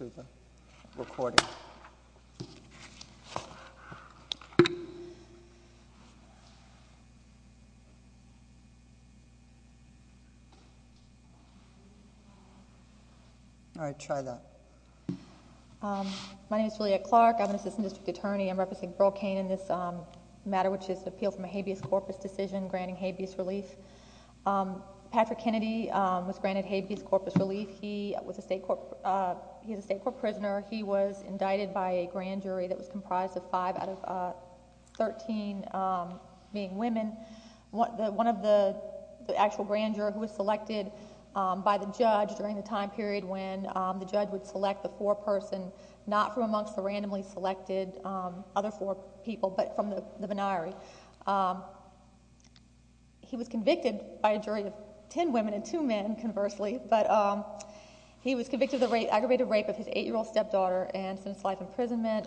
My name is Juliette Clark. I'm an assistant district attorney. I'm representing Burl Cain in this matter which is an appeal from a habeas corpus decision granting habeas relief. Patrick Kennedy was granted habeas corpus relief. He is a state court prisoner. He was indicted by a grand jury that was comprised of 5 out of 13 being women. One of the actual grand jurors was selected by the judge during the time period when the judge would select the foreperson not from amongst the randomly selected other 4 people but from the venire. He was convicted by a jury of 10 women and 2 men, conversely, but he was convicted of aggravated rape of his 8-year-old stepdaughter and sentenced to life imprisonment.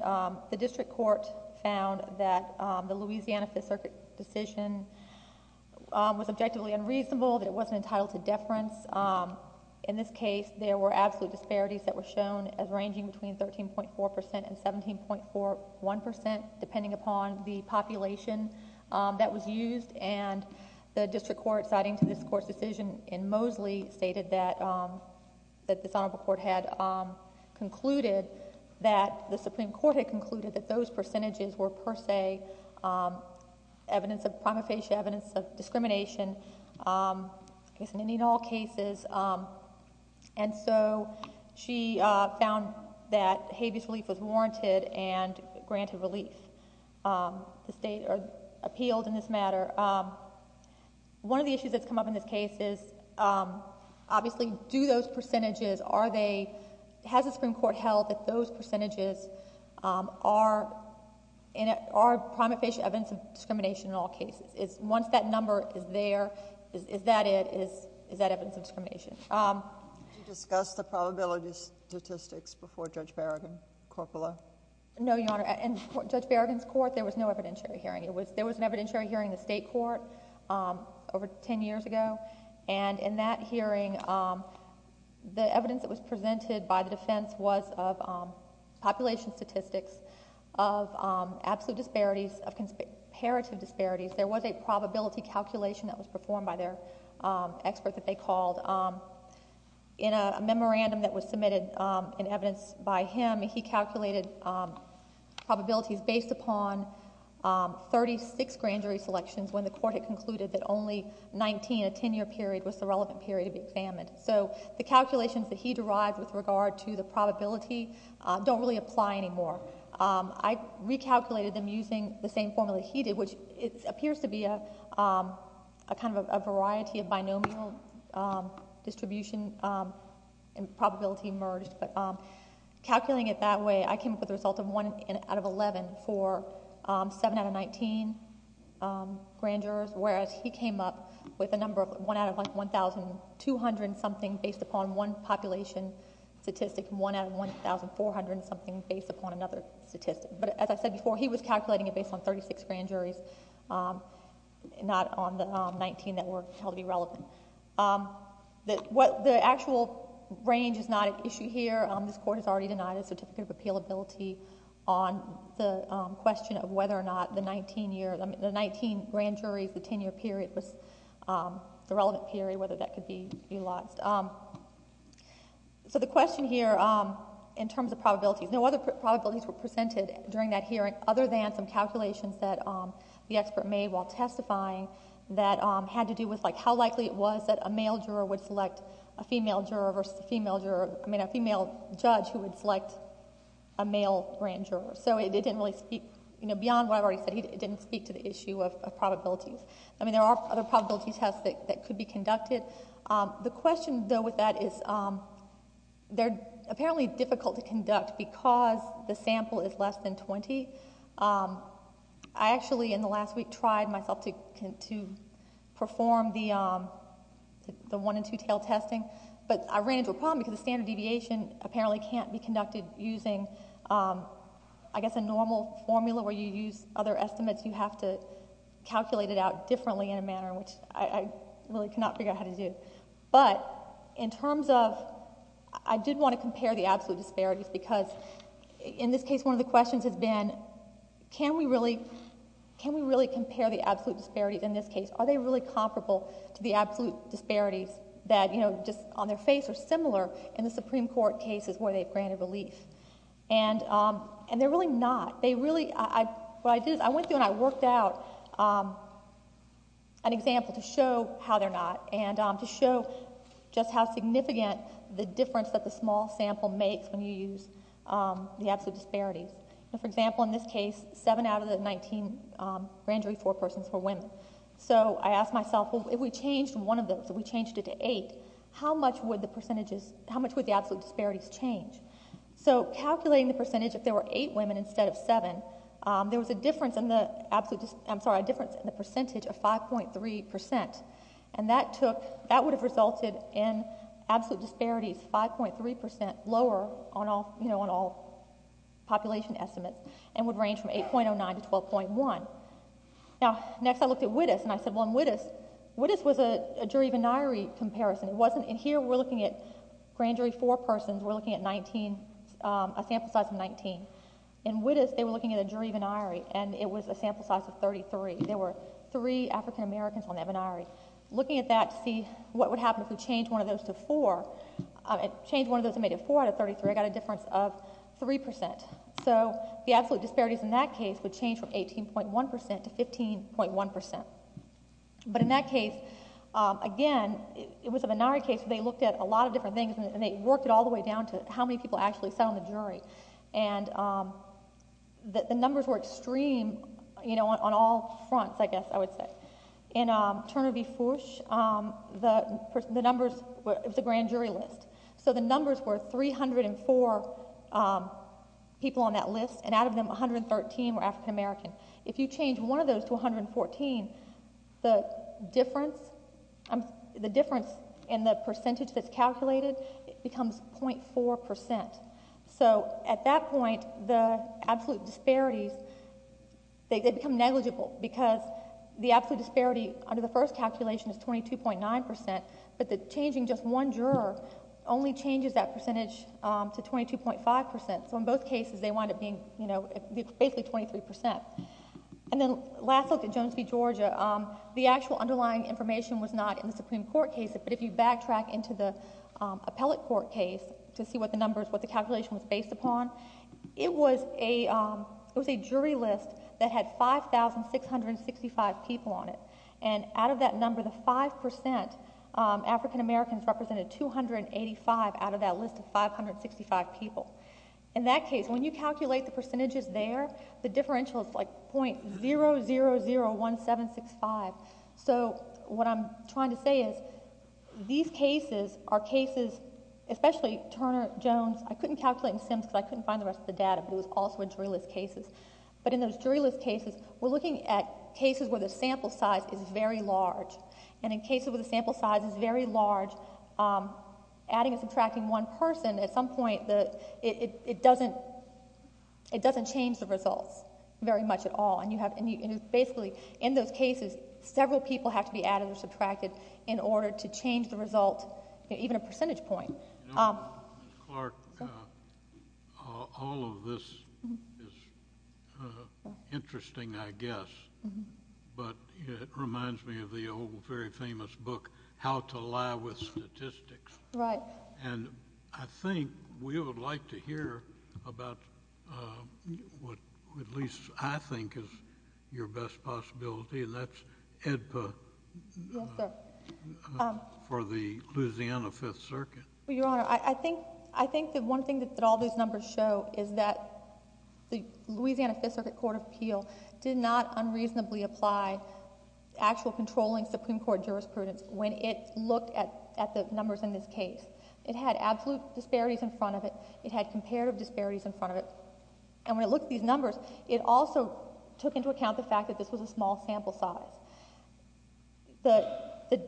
The district court found that the Louisiana Fifth Circuit decision was objectively unreasonable, that it wasn't entitled to deference. In this case, there were absolute disparities that were shown as ranging between 13.4% and 17.41% depending upon the population that was used. And the district court, citing to this court's decision in Mosley, stated that this honorable court had concluded that the Supreme Court had concluded that those percentages were per se evidence of prima facie evidence of discrimination in any and all cases. And so she found that habeas relief was warranted and granted relief. The state appealed in this matter. One of the issues that's come up in this case is, obviously, do those percentages, are they, has the Supreme Court held that those percentages are prima facie evidence of discrimination in all cases? Once that number is there, is that it? Is that evidence of discrimination? Did you discuss the probability statistics before Judge Berrigan, corpora? No, Your Honor. In Judge Berrigan's court, there was no evidentiary hearing. There was an evidentiary hearing in the state court over 10 years ago. And in that hearing, the evidence that was presented by the defense was of population statistics, of absolute disparities, of comparative disparities. There was a probability calculation that was performed by their expert that they called. In a memorandum that was submitted in evidence by him, he calculated probabilities based upon 36 grand jury selections when the court had concluded that only 19, a 10-year period, was the relevant period to be examined. So the calculations that he derived with regard to the probability don't really apply anymore. I recalculated them using the same formula he did, which it appears to be a kind of a variety of binomial distribution and probability merged. But calculating it that way, I came up with a result of 1 out of 11 for 7 out of 19 grand jurors, whereas he came up with a number of 1 out of 1,200 something based upon one population statistic and 1 out of 1,400 something based upon another population statistic. So he was recalculating it based on 36 grand juries, not on the 19 that were held to be relevant. The actual range is not an issue here. This court has already denied a Certificate of Appealability on the question of whether or not the 19 grand juries, the 10-year period, was the relevant period, whether that could be elapsed. So the question here in terms of probabilities, no other probabilities were presented during that hearing other than some calculations that the expert made while testifying that had to do with how likely it was that a male juror would select a female judge who would select a male grand juror. So it didn't really speak beyond what I've already said. It didn't speak to the issue of probabilities. I mean, there are other probability tests that could be conducted. The question, though, with that is they're apparently difficult to conduct because the sample is less than 20. I actually, in the last week, tried myself to perform the one and two-tail testing, but I ran into a problem because the standard deviation apparently can't be conducted using, I guess, a normal formula where you use other estimates. You have to calculate it out differently in a manner which I really cannot figure out how to do. But in terms of, I did want to compare the absolute disparities because, in this case, one of the questions has been, can we really compare the absolute disparities in this case? Are they really comparable to the absolute disparities that, you know, just on their face are similar in the Supreme Court cases where they've granted relief? And they're really not. They really, what I did is I went through and I worked out an example to show how they're not and to show just how significant the difference that the small sample makes when you use the absolute disparities. For example, in this case, 7 out of the 19 grand jury forepersons were women. So I asked myself, well, if we changed one of those, if we changed it to 8, how much would the percentages, how much would the absolute disparities change? So calculating the percentage, if there were 8 women instead of 7, there was a difference in the, I'm sorry, a difference in the percentage of 5.3%. And that took, that would have resulted in absolute disparities 5.3% lower on all, you know, on all population estimates and would range from 8.09 to 12.1. Now, next I looked at Wittes and I said, well, in Wittes, Wittes was a jury venire comparison. It wasn't, and here we're looking at grand jury forepersons, we're looking at 19, a sample size of 19. In Wittes, they were looking at a jury venire and it was a sample size of 33. There were 3 African Americans on that venire. Looking at that to see what would happen if we changed one of those to 4, changed one of those and made it 4 out of 33, I got a difference of 3%. So the absolute disparities in that case would change from 18.1% to 15.1%. But in that case, again, it was a venire case, they looked at a lot of different things and they worked it all the way down to how many people actually sat on the jury. And the numbers were extreme, you know, on all fronts, I guess I would say. In Turner v. Foosh, the numbers, it was a grand jury list. So the numbers were 304 people on that list and out of them, 113 were African American. If you change one of those to 114, the difference, the difference in the percentage that's calculated becomes 0.4%. So that's 0.4%. So at that point, the absolute disparities, they become negligible because the absolute disparity under the first calculation is 22.9% but the changing just one juror only changes that percentage to 22.5%. So in both cases, they wind up being, you know, basically 23%. And then last look at Jones v. Georgia, the actual underlying information was not in the Supreme Court case but if you backtrack into the appellate court case to see what the numbers, what the calculation was based upon, it was a jury list that had 5,665 people on it. And out of that number, the 5%, African Americans represented 285 out of that list of 565 people. In that case, when you calculate the percentages there, the differential is like 0.0001765. So what I'm trying to say is these cases are cases, especially Turner, Jones, I couldn't calculate in SIMS because I couldn't find the rest of the data but it was also in jury list cases. But in those jury list cases, we're looking at cases where the sample size is very large. And in cases where the sample size is very large, adding and subtracting one person at some point, it doesn't change the results very much at all. And you have to basically, in those cases, several people have to be added or subtracted in order to change the result, even a percentage point. Clark, all of this is interesting I guess but it reminds me of the old very famous book How to Lie with Statistics. Right. And I think we would like to hear about what at least I think is the most important part of this case. Well, I'll start with you, because you have your best possibility, and that's EDPA. For the Louisiana Fifth Circuit. You Honor, I think the one thing that all these numbers show is that the Louisiana Fifth Circuit Court of Appeal did not unreasonably apply actual controlling Supreme Court jurisprudence when it looked at the numbers in this case. It had absolute disparities in front of it. It had comparative disparities in front of it. And when it looked at these numbers, it also took into account the fact that this was a small sample size. The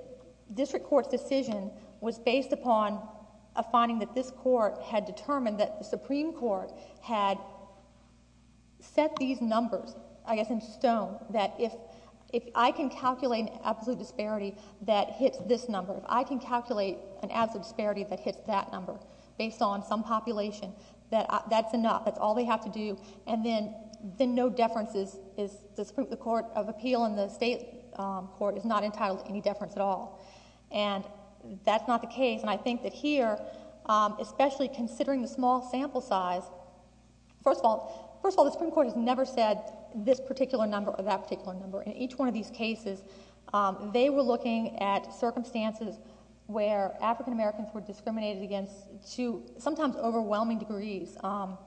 District Court's decision was based upon a finding that this Court had determined that the Supreme Court had set these numbers, I guess in stone, that if I can calculate an absolute disparity that hits this number, if I can calculate an absolute disparity that hits that number based on some population, that's enough. That's all they have to do. And then no deference is, the Court of Appeal in the State Court is not entitled to any deference at all. And that's not the case. And I think that here, especially considering the small sample size, first of all, the Supreme Court has never said this particular number or that particular number. In each one of these cases, they were looking at circumstances where African Americans were overwhelming degrees. And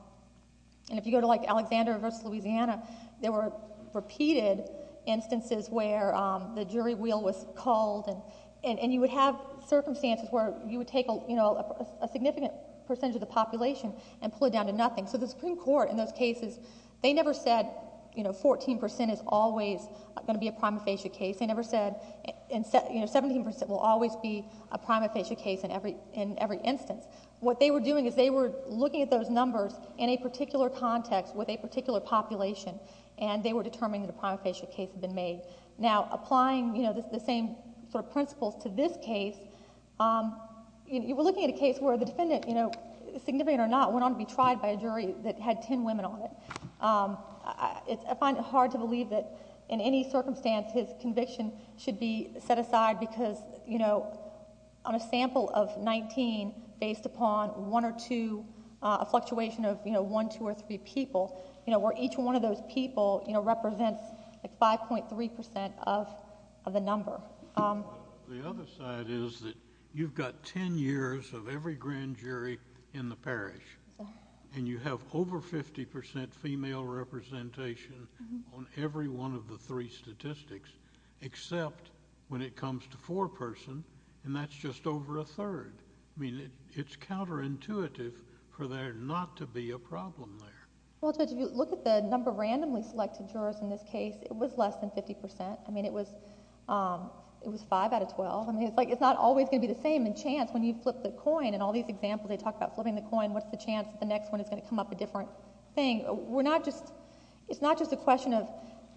if you go to like Alexander versus Louisiana, there were repeated instances where the jury wheel was called. And you would have circumstances where you would take a significant percentage of the population and pull it down to nothing. So the Supreme Court in those cases, they never said 14% is always going to be a prima facie case. They never said 17% will always be a prima facie case in every instance. What they were doing is they were looking at those numbers in a particular context with a particular population, and they were determining that a prima facie case had been made. Now, applying the same sort of principles to this case, you were looking at a case where the defendant, significant or not, went on to be tried by a jury that had 10 women on it. I find it hard to believe that in any circumstance his conviction should be set aside because on a sample of 19 based upon one or two, a fluctuation of one, two, or three people, where each one of those people represents 5.3% of the number. The other side is that you've got 10 years of every grand jury in the parish, and you have over 50% female representation on every one of the three statistics, except when it is over a third. I mean, it's counterintuitive for there not to be a problem there. Well, Judge, if you look at the number of randomly selected jurors in this case, it was less than 50%. I mean, it was 5 out of 12. I mean, it's not always going to be the same. In chance, when you flip the coin, in all these examples, they talk about flipping the coin. What's the chance that the next one is going to come up a different thing? We're not just, it's not just a question of,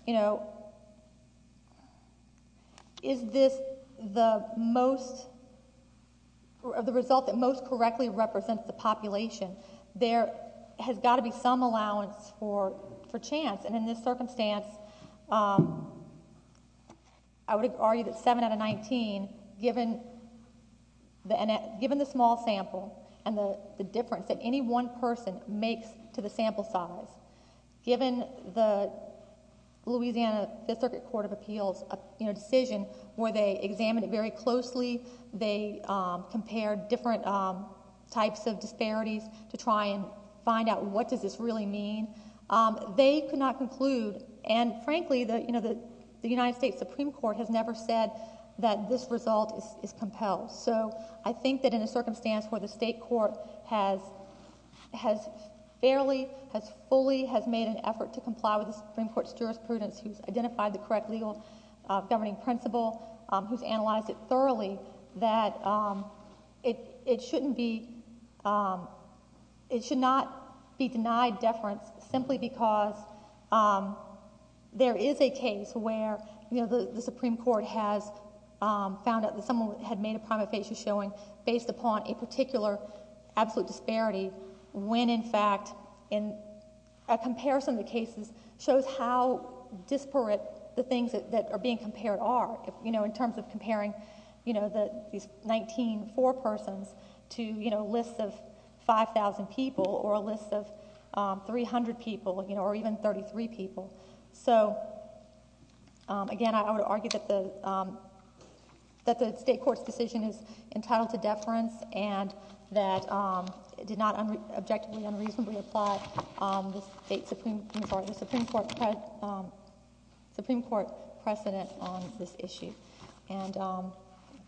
you know, is this the most, you know, the result that most correctly represents the population? There has got to be some allowance for chance, and in this circumstance, I would argue that 7 out of 19, given the small sample and the difference that any one person makes to the sample size, given the Louisiana Fifth Compared different types of disparities to try and find out, what does this really mean? They could not conclude, and frankly, you know, the United States Supreme Court has never said that this result is compelled. So I think that in a circumstance where the state court has fairly, has fully, has made an effort to comply with the Supreme Court's jurisprudence, who's identified the correct legal governing principle, who's analyzed it thoroughly, that it, it shouldn't be, it should not be denied deference simply because there is a case where, you know, the Supreme Court has found that someone had made a primate facial showing based upon a particular absolute disparity, when in fact, in a comparison of the cases, shows how disparate the things that are being compared are, you know, in the, these 19 four persons to, you know, lists of 5,000 people or a list of 300 people, you know, or even 33 people. So, again, I would argue that the, that the state court's decision is entitled to deference and that it did not objectively, unreasonably apply the state So, with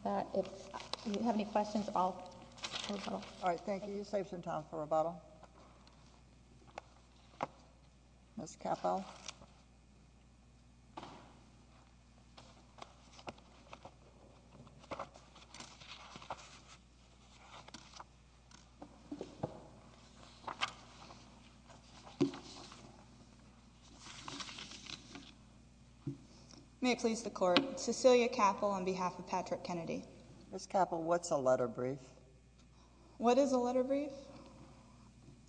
that, if you have any questions, I'll, I'll go. All right. Thank you. You saved some time for rebuttal. Ms. Cappell. May it please the Court. Cecilia Cappell on behalf of Patrick Kennedy. Ms. Cappell, what's a letter brief? What is a letter brief?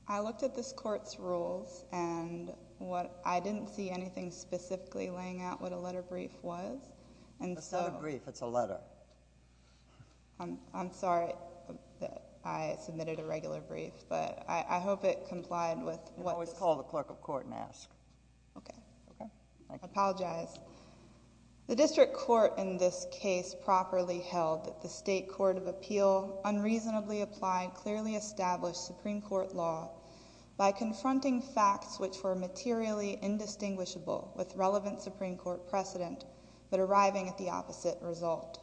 I looked at this Court's rules and what, I didn't see anything specifically laying out what a letter brief was, and so. It's not a brief, it's a letter. I'm, I'm sorry that I submitted a regular brief, but I, I hope it complied with what this. You can always call the clerk of court and ask. Okay. Okay. Thank you. I apologize. The district court in this case properly held that the state court of appeal unreasonably applied, clearly established Supreme Court law by confronting facts which were materially indistinguishable with relevant Supreme Court precedent, but arriving at the opposite result.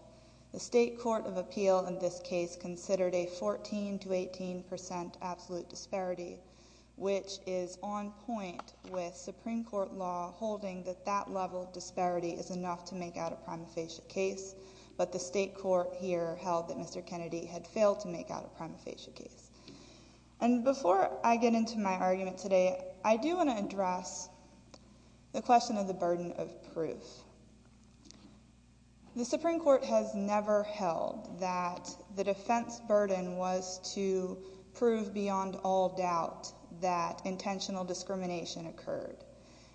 The state court of appeal in this case considered a 14 to 18 percent absolute disparity, which is on point with Supreme Court law holding that that level of disparity is enough to make out a prima facie case, but the state court here held that Mr. Kennedy had failed to make out a prima facie case. And before I get into my argument today, I do want to address the question of the burden of proof. The Supreme Court has never held that the defense burden was to prove beyond all doubt that intentional discrimination occurred.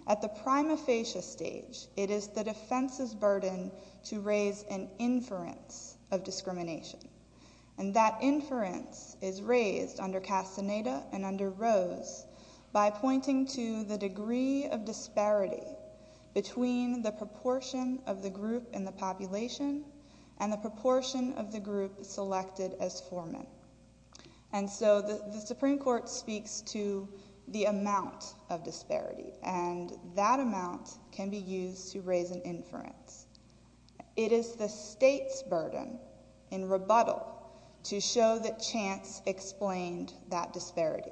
At the prima facie stage, it is the defense's burden to raise an inference of discrimination. And that inference is raised under Castaneda and under Rose by pointing to the degree of disparity between the proportion of the group in the population and the proportion of the group selected as foreman. And so the Supreme Court speaks to the amount of disparity, and that amount can be used to raise an inference. It is the state's burden in rebuttal to show that chance explained that disparity.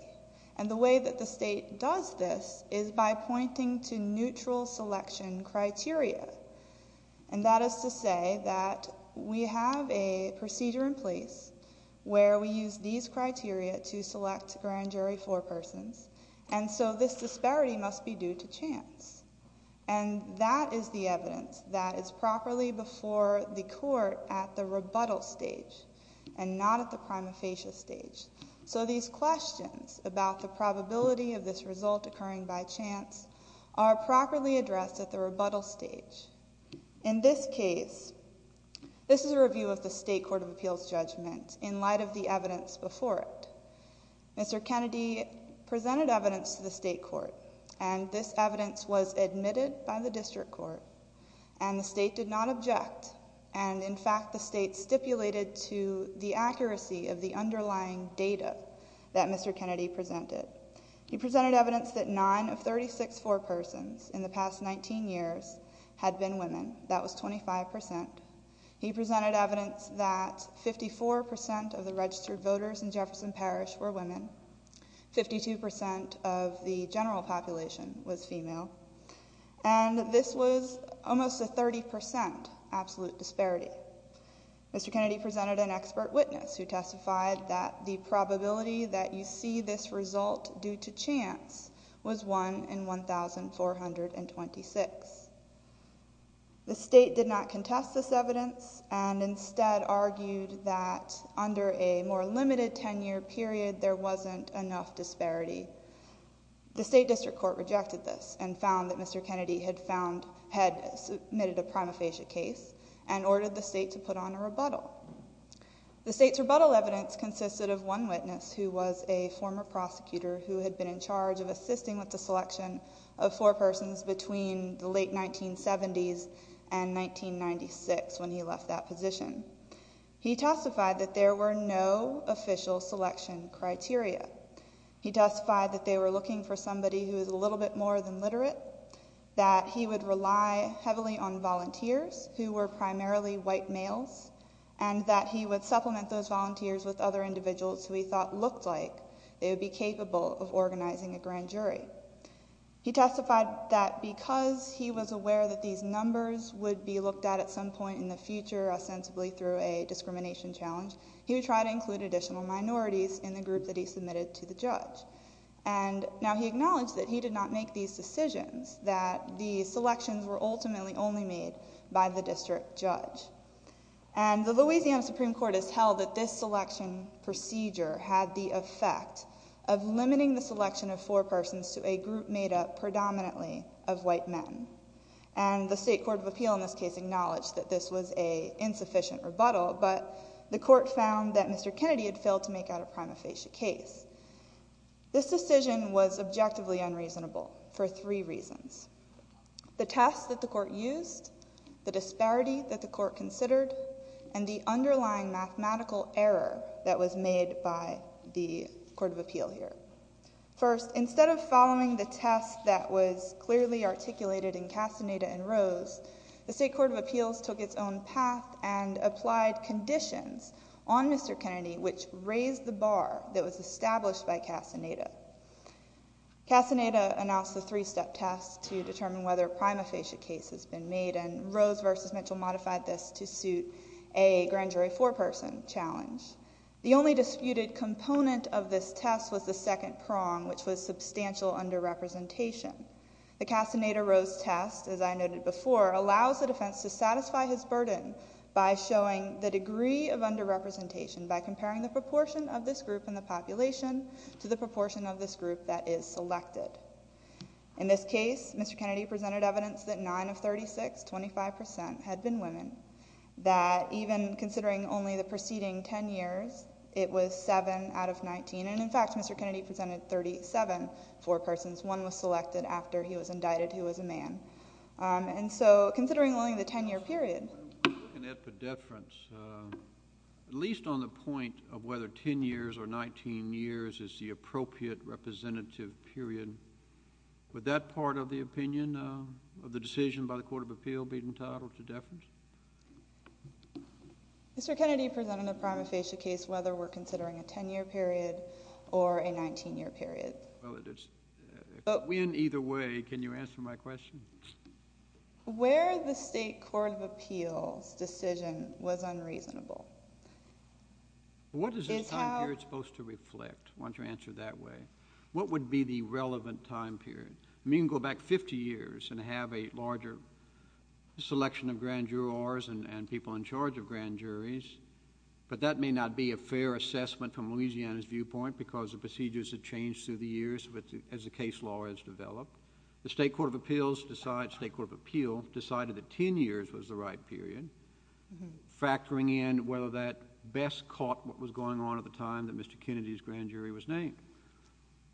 And the way that the state does this is by pointing to neutral selection criteria, and that is to say that we have a procedure in place where we use these criteria to select grand jury forepersons, and so this disparity must be due to chance. And that is the evidence that is properly before the court at the rebuttal stage and not at the prima facie stage. So these questions about the probability of this result occurring by chance are properly addressed at the rebuttal stage. In this case, this is a review of the State Court of Appeals judgment in light of the evidence before it. Mr. Kennedy presented evidence to the state court, and this evidence was admitted by the district court, and the state did not object, and in fact the state stipulated to the accuracy of the underlying data that Mr. Kennedy presented. He presented evidence that nine of 36 forepersons in the past 19 years had been women. That was 25%. He presented evidence that 54% of the registered voters in Jefferson Parish were women, 52% of the general population was female, and this was almost a 30% absolute disparity. Mr. Kennedy presented an expert witness who testified that the probability that you see this result due to chance was 1 in 1,426. The state did not contest this evidence and instead argued that under a more limited 10-year period there wasn't enough disparity. The state district court rejected this and found that Mr. Kennedy had found, had submitted a prima facie case and ordered the state to put on a rebuttal. The state's rebuttal evidence consisted of one witness who was a former prosecutor who had been in charge of assisting with the selection of forepersons between the late 1970s and 1996 when he left that position. He testified that there were no official selection criteria. He testified that they were looking for somebody who was a little bit more than literate, that he would rely heavily on volunteers who were primarily white males and that he would supplement those volunteers with other individuals who he thought looked like they would be capable of organizing a grand jury. He testified that because he was aware that these numbers would be looked at at some point in the future, ostensibly through a discrimination challenge, he would try to include additional minorities in the group that he submitted to the judge. Now he acknowledged that he did not make these decisions, that the selections were ultimately only made by the district judge. The Louisiana Supreme Court has held that this selection procedure had the effect of limiting the selection of forepersons to a group made up predominantly of white men. The state court of appeal in this case acknowledged that this was an insufficient rebuttal, but the court found that Mr. Kennedy had failed to make out a prima facie case. This decision was objectively unreasonable for three reasons. The test that the court used, the disparity that the court considered, and the underlying mathematical error that was made by the court of appeal here. First, instead of following the test that was clearly articulated in Castaneda and Rose, the state court of appeals took its own path and applied conditions on Mr. Kennedy, which raised the bar that was established by Castaneda. Castaneda announced the three-step test to determine whether a prima facie case has been made, and Rose versus Mitchell modified this to suit a grand jury foreperson challenge. The only disputed component of this test was the second prong, which was substantial under-representation. The Castaneda-Rose test, as I noted before, allows the defense to satisfy his burden by showing the degree of under-representation by comparing the proportion of this group in the population to the proportion of this group that is selected. In this case, Mr. Kennedy presented evidence that nine of 36, 25 percent, had been women, that even considering only the preceding ten years, it was seven out of 19, and in fact Mr. Kennedy presented 37 forepersons. One was selected after he was indicted, who was a man. And so, considering only the ten-year period. At least on the point of whether ten years or 19 years is the appropriate representative period, would that part of the opinion of the decision by the court of appeal be entitled to deference? Mr. Kennedy presented a prima facie case, whether we're considering a ten-year period or a 19-year period. Well, it is. In either way, can you answer my question? Where the state court of appeals decision was unreasonable. What is this time period supposed to reflect? Why don't you answer that way. What would be the relevant time period? We can go back 50 years and have a larger selection of grand jurors and people in charge of grand juries, but that may not be a fair assessment from Louisiana's viewpoint because the procedures have changed through the years as the case law has developed. The state court of appeals decided that ten years was the right period, factoring in whether that best caught what was going on at the time that Mr. Kennedy's grand jury was named.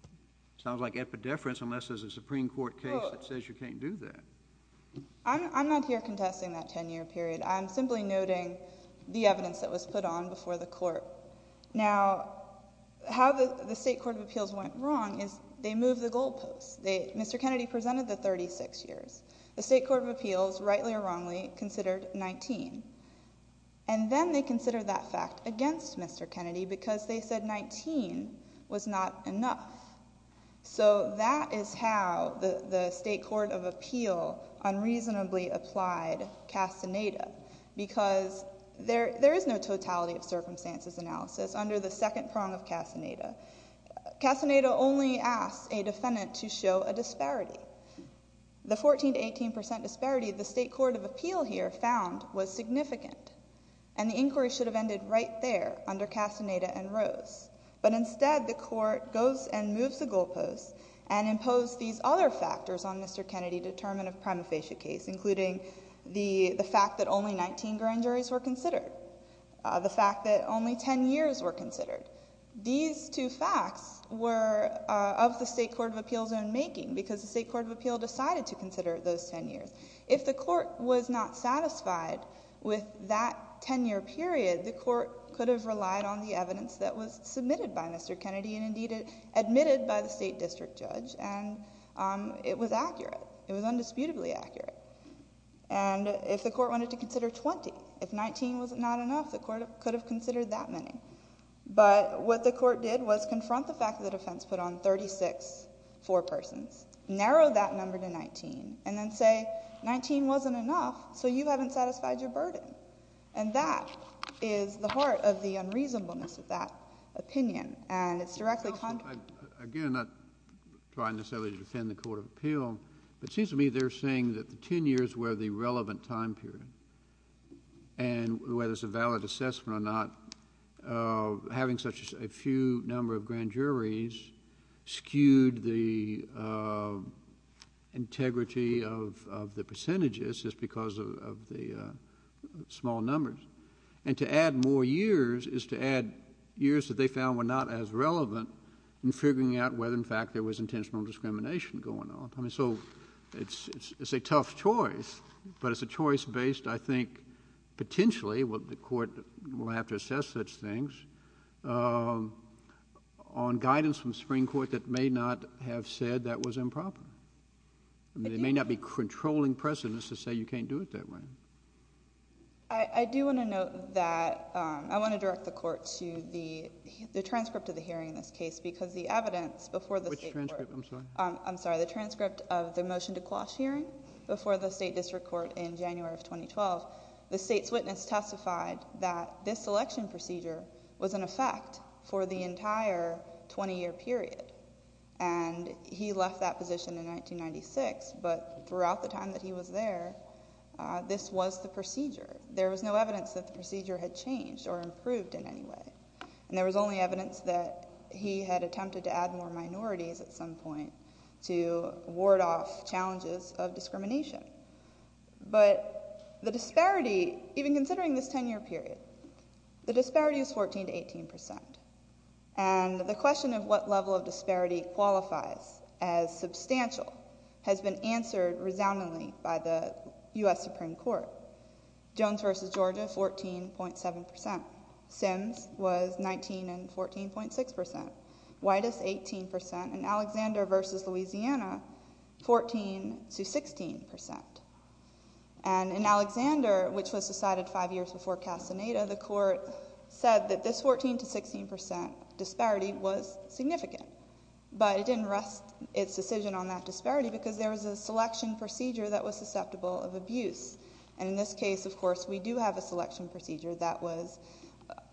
It sounds like epideference unless there's a Supreme Court case that says you can't do that. I'm not here contesting that ten-year period. I'm simply noting the evidence that was put on before the court. Now, how the state court of appeals went wrong is they moved the goal posts. Mr. Kennedy presented the 36 years. The state court of appeals, rightly or wrongly, considered 19. And then they considered that fact against Mr. Kennedy because they said 19 was not enough. So that is how the state court of appeal unreasonably applied Casaneda because there is no totality of circumstances analysis under the second prong of Casaneda. Casaneda only asked a defendant to show a disparity. The 14 to 18 percent disparity the state court of appeal here found was significant. And the inquiry should have ended right there under Casaneda and Rose. But instead, the court goes and moves the goal posts and imposed these other factors on Mr. Kennedy to determine a prima facie case, including the fact that only 19 grand juries were considered, the fact that only ten years were considered. These two facts were of the state court of appeals' own making because the state court of appeals decided to consider those ten years. If the court was not satisfied with that ten-year period, the court could have relied on the evidence that was submitted by Mr. Kennedy and indeed admitted by the state district judge. And it was accurate. It was undisputably accurate. And if the court wanted to consider 20, if 19 was not enough, the court could have considered that many. But what the court did was confront the fact that the defense put on 36, four persons, narrow that number to 19, and then say, 19 wasn't enough, so you haven't satisfied your burden. And that is the heart of the unreasonableness of that opinion. And it's directly contrary. Again, I'm not trying necessarily to defend the court of appeal, but it seems to me they're saying that the ten years were the relevant time period. And whether it's a valid assessment or not, having such a few number of grand juries skewed the integrity of the percentages just because of the small numbers. And to add more years is to add years that they found were not as relevant in figuring out whether, in fact, there was intentional discrimination going on. So it's a tough choice, but it's a choice based, I think, potentially, the court will have to assess such things, on guidance from the Supreme Court that may not have said that was improper. They may not be controlling precedents to say you can't do it that way. I do want to note that I want to direct the court to the transcript of the hearing in this case because the evidence before the State Court. Which transcript? I'm sorry. The transcript of the motion to quash hearing before the State District Court in January of 2012. The State's witness testified that this selection procedure was in effect for the entire 20-year period. And he left that position in 1996, but throughout the time that he was there, this was the procedure. There was no evidence that the procedure had changed or improved in any way. And there was only evidence that he had attempted to add more minorities at some point to ward off challenges of discrimination. But the disparity, even considering this 10-year period, the disparity is 14 to 18%. And the question of what level of disparity qualifies as substantial has been answered resoundingly by the U.S. Supreme Court. Jones v. Georgia, 14.7%. Sims was 19 and 14.6%. Whitus, 18%. And Alexander v. Louisiana, 14 to 16%. And in Alexander, which was decided five years before Castaneda, the court said that this 14 to 16% disparity was significant. But it didn't rest its decision on that disparity because there was a selection procedure that was susceptible of abuse. And in this case, of course, we do have a selection procedure that was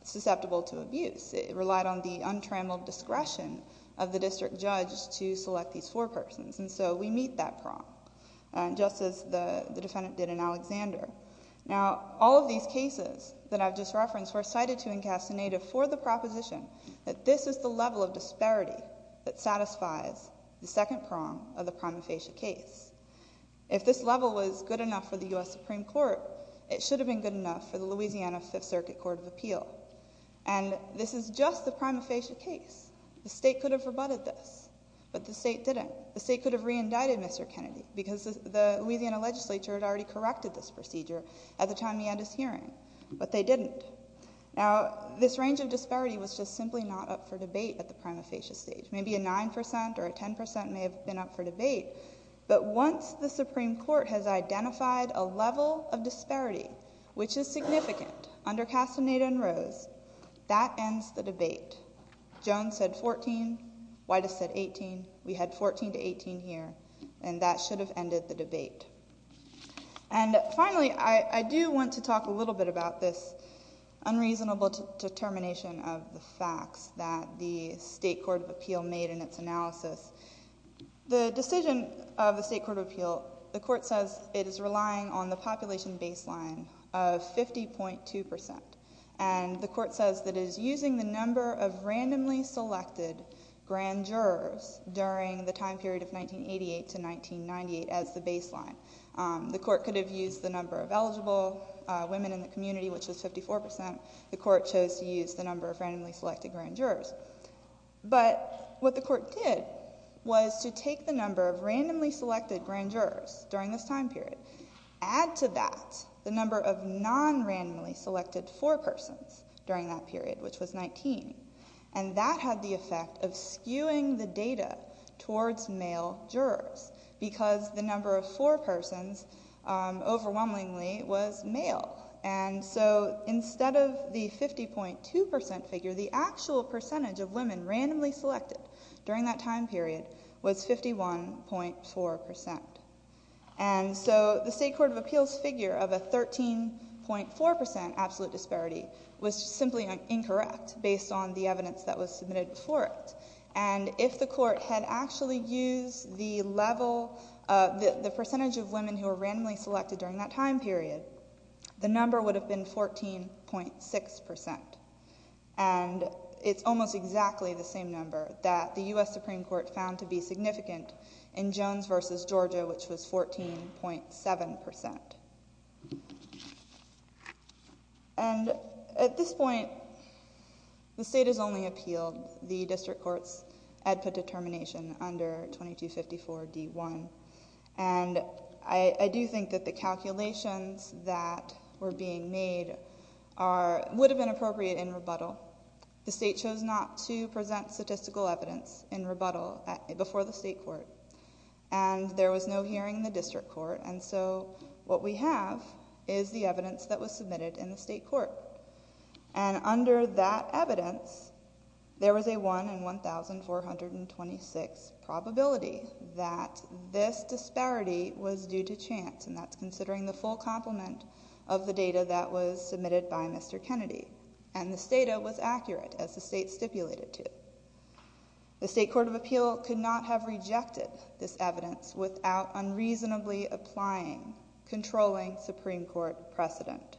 susceptible to abuse. It relied on the untrammeled discretion of the district judge to select these four persons. And so we meet that prong, just as the defendant did in Alexander. Now, all of these cases that I've just referenced were cited to in Castaneda for the proposition that this is the level of disparity that satisfies the second prong of the prima facie case. If this level was good enough for the U.S. Supreme Court, it should have been good enough for the Louisiana Fifth Circuit Court of Appeal. And this is just the prima facie case. The state could have rebutted this, but the state didn't. The state could have reindicted Mr. Kennedy because the Louisiana legislature had already corrected this procedure at the time we had this hearing, but they didn't. Now, this range of disparity was just simply not up for debate at the prima facie stage. Maybe a 9% or a 10% may have been up for debate, but once the Supreme Court has identified a level of disparity, which is significant under Castaneda and Rose, that ends the debate. Jones said 14. Widas said 18. We had 14 to 18 here, and that should have ended the debate. And finally, I do want to talk a little bit about this unreasonable determination of the facts that the state court of appeal made in its analysis. The decision of the state court of appeal, the court says it is relying on the population baseline of 50.2%, and the court says that it is using the number of randomly selected grand jurors during the time period of 1988 to 1998 as the baseline. The court could have used the number of eligible women in the community, which was 54%. The court chose to use the number of randomly selected grand jurors. But what the court did was to take the number of randomly selected grand jurors during this time period, add to that the number of non-randomly selected forepersons during that period, which was 19, and that had the effect of skewing the data towards male jurors because the number of forepersons, overwhelmingly, was male. And so instead of the 50.2% figure, the actual percentage of women randomly selected during that time period was 51.4%. And so the state court of appeals figure of a 13.4% absolute disparity was simply incorrect based on the evidence that was submitted for it. And if the court had actually used the percentage of women who were randomly selected during that time period, the number would have been 14.6%. And it's almost exactly the same number that the U.S. Supreme Court found to be significant in Jones v. Georgia, which was 14.7%. And at this point, the state has only appealed the district court's EDPA determination under 2254 D.1. And I do think that the calculations that were being made would have been appropriate in rebuttal. The state chose not to present statistical evidence in rebuttal before the state court, and there was no hearing in the district court. And so what we have is the evidence that was submitted in the state court. And under that evidence, there was a 1 in 1,426 probability that this disparity was due to chance, and that's considering the full complement of the data that was submitted by Mr. Kennedy. And this data was accurate, as the state stipulated to. The state court of appeal could not have rejected this evidence without unreasonably applying controlling Supreme Court precedent.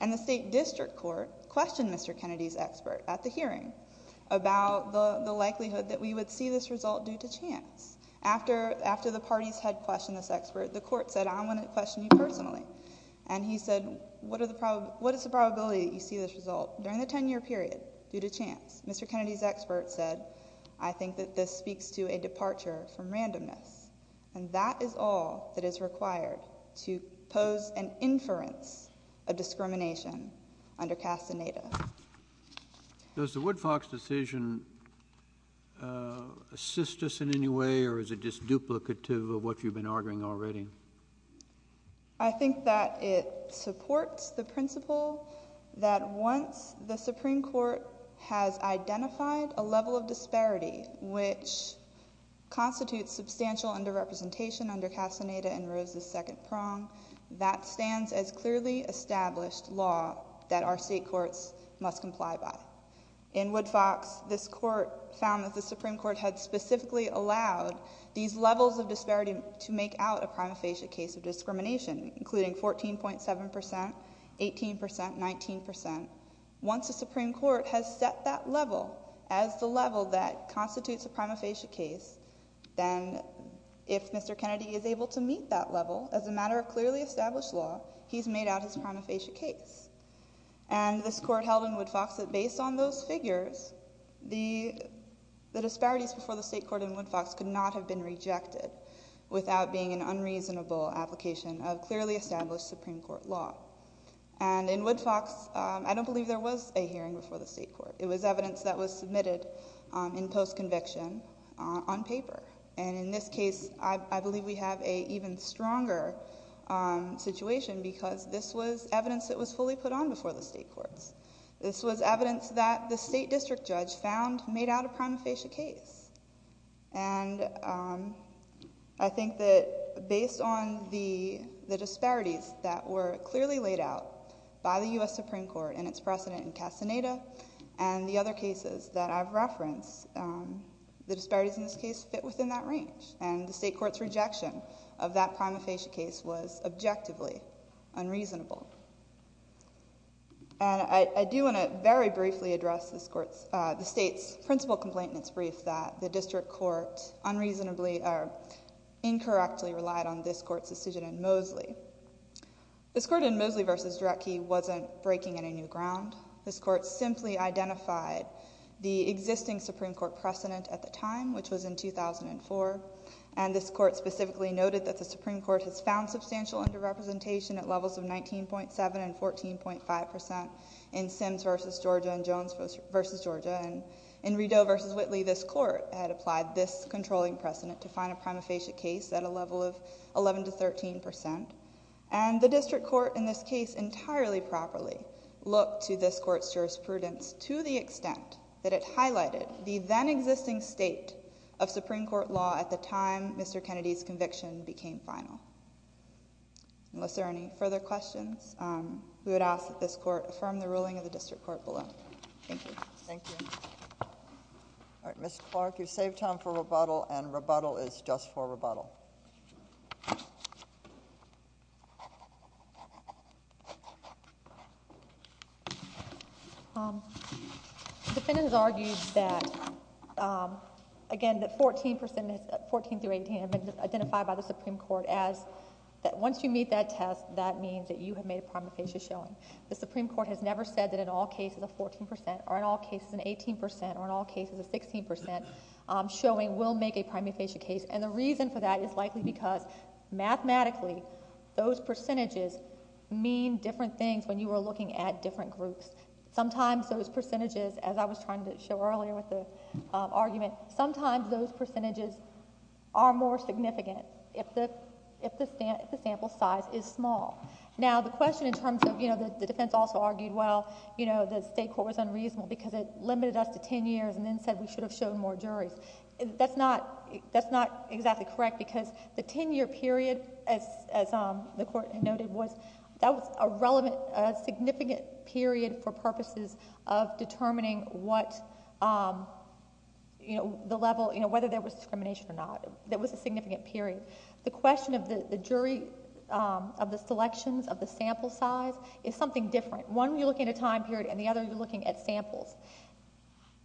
And the state district court questioned Mr. Kennedy's expert at the hearing about the likelihood that we would see this result due to chance. After the parties had questioned this expert, the court said, I'm going to question you personally. And he said, what is the probability that you see this result during the 10-year period due to chance? Mr. Kennedy's expert said, I think that this speaks to a departure from randomness. And that is all that is required to pose an inference of discrimination under Castaneda. Does the Woodfox decision assist us in any way, or is it just duplicative of what you've been arguing already? I think that it supports the principle that once the Supreme Court has identified a level of disparity which constitutes substantial under-representation under Castaneda and Rose's second prong, that stands as clearly established law that our state courts must comply by. In Woodfox, this court found that the Supreme Court had specifically allowed these levels of disparity to make out a prima facie case of discrimination, including 14.7 percent, 18 percent, 19 percent. Once the Supreme Court has set that level as the level that constitutes a prima facie case, then if Mr. Kennedy is able to meet that level as a matter of clearly established law, he's made out his prima facie case. And this court held in Woodfox that based on those figures, the disparities before the state court in Woodfox could not have been rejected without being an unreasonable application of clearly established Supreme Court law. And in Woodfox, I don't believe there was a hearing before the state court. It was evidence that was submitted in post-conviction on paper. And in this case, I believe we have an even stronger situation because this was evidence that was fully put on before the state courts. This was evidence that the state district judge found made out a prima facie case. And I think that based on the disparities that were clearly laid out by the U.S. Supreme Court and its precedent in Castaneda and the other cases that I've referenced, the disparities in this case fit within that range. And the state court's rejection of that prima facie case was objectively unreasonable. And I do want to very briefly address the state's principal complainant's brief that the district court unreasonably or incorrectly relied on this court's decision in Mosley. This court in Mosley v. Drecke wasn't breaking any new ground. This court simply identified the existing Supreme Court precedent at the time, which was in 2004, and this court specifically noted that the Supreme Court has found substantial underrepresentation at levels of 19.7 and 14.5 percent in Sims v. Georgia and Jones v. Georgia. And in Rideau v. Whitley, this court had applied this controlling precedent to find a prima facie case at a level of 11 to 13 percent. And the district court in this case entirely properly looked to this court's jurisprudence to the extent that it highlighted the then-existing state of Supreme Court law at the time Mr. Kennedy's conviction became final. Unless there are any further questions, we would ask that this court affirm the ruling of the district court below. Thank you. Thank you. All right, Ms. Clark, you've saved time for rebuttal, and rebuttal is just for rebuttal. The defendant has argued that, again, that 14 percent, 14 through 18, have been identified by the Supreme Court as that once you meet that test, that means that you have made a prima facie showing. The Supreme Court has never said that in all cases a 14 percent or in all cases an 18 percent or in all cases a 16 percent showing will make a prima facie case. And the reason for that is likely because mathematically, those percentages mean different things when you are looking at different groups. Sometimes those percentages, as I was trying to show earlier with the argument, sometimes those percentages are more significant if the sample size is small. Now, the question in terms of, you know, the defense also argued, well, you know, the state court was unreasonable because it limited us to 10 years and then said we should have shown more juries. That's not exactly correct because the 10-year period, as the Court noted, was that was a relevant, significant period for purposes of determining what, you know, the level, you know, whether there was discrimination or not. That was a significant period. The question of the jury, of the selections, of the sample size, is something different. One, you're looking at a time period, and the other, you're looking at samples.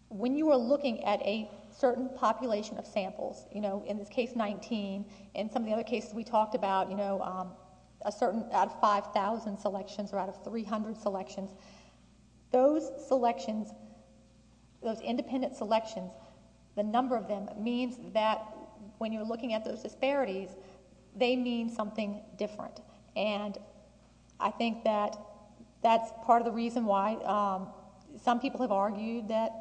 When you are looking at a certain population of samples, you know, in this case 19, in some of the other cases we talked about, you know, a certain 5,000 selections or out of 300 selections, those selections, those independent selections, the number of them means that when you're looking at those disparities, they mean something different. And I think that that's part of the reason why some people have argued that,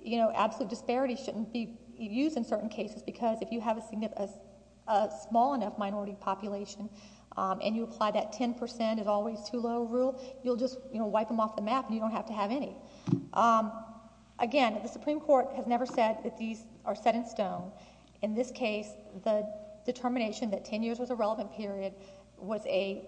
you know, absolute disparities shouldn't be used in certain cases because if you have a small enough minority population and you apply that 10% is always too low rule, you'll just, you know, wipe them off the map and you don't have to have any. Again, the Supreme Court has never said that these are set in stone. In this case, the determination that 10 years was a relevant period was a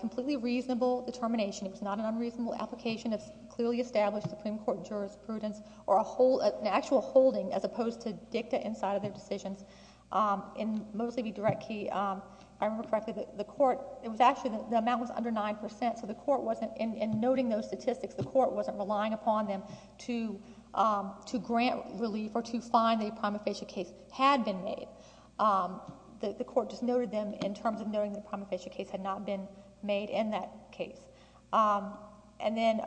completely reasonable determination. It was not an unreasonable application of clearly established Supreme Court jurisprudence or an actual holding as opposed to dicta inside of their decisions. And mostly be direct key, I remember correctly, the Court, it was actually the amount was under 9%, so the Court wasn't, in noting those statistics, the Court wasn't relying upon them to grant relief or to find a prima facie case had been made. The Court just noted them in terms of noting the prima facie case had not been made in that case. And then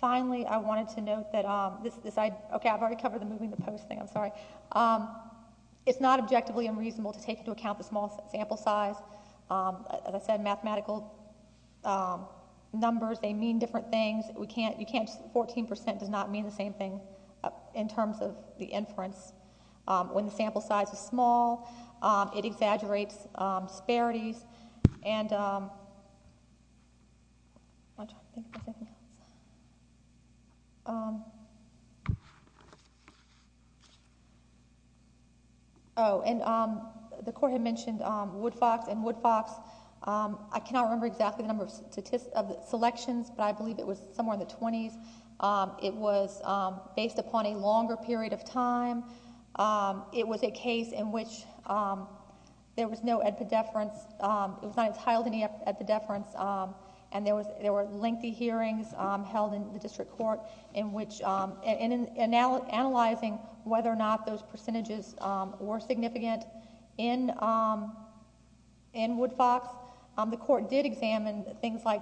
finally, I wanted to note that this, okay, I've already covered the moving the post thing, I'm sorry. It's not objectively unreasonable to take into account the small sample size. As I said, mathematical numbers, they mean different things. We can't, you can't, 14% does not mean the same thing in terms of the inference. When the sample size is small, it exaggerates disparities. Oh, and the Court had mentioned Woodfox and Woodfox. I cannot remember exactly the number of selections, but I believe it was somewhere in the 20s. It was based upon a longer period of time. It was a case in which there was no epidefference. It was not entitled to any epidefference. And there were lengthy hearings held in the District Court in which, in analyzing whether or not those percentages were significant in Woodfox, the Court did examine things like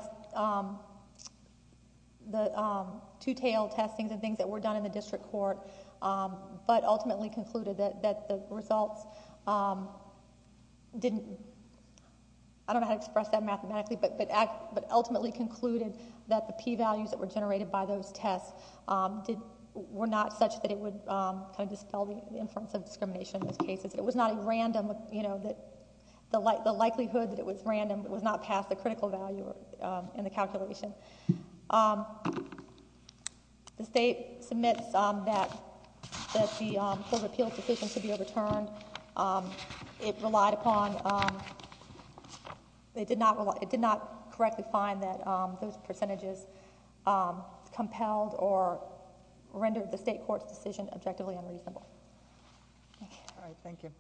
the two-tailed testings and things that were done in the District Court, but ultimately concluded that the results didn't, I don't know how to express that mathematically, but ultimately concluded that the p-values that were generated by those tests were not such that it would kind of dispel the inference of discrimination in those cases. It was not a random, you know, the likelihood that it was random was not past the critical value in the calculation. The State submits that the appeals decision should be overturned. It relied upon, it did not correctly find that those percentages compelled or rendered the State Court's decision objectively unreasonable. All right. Thank you.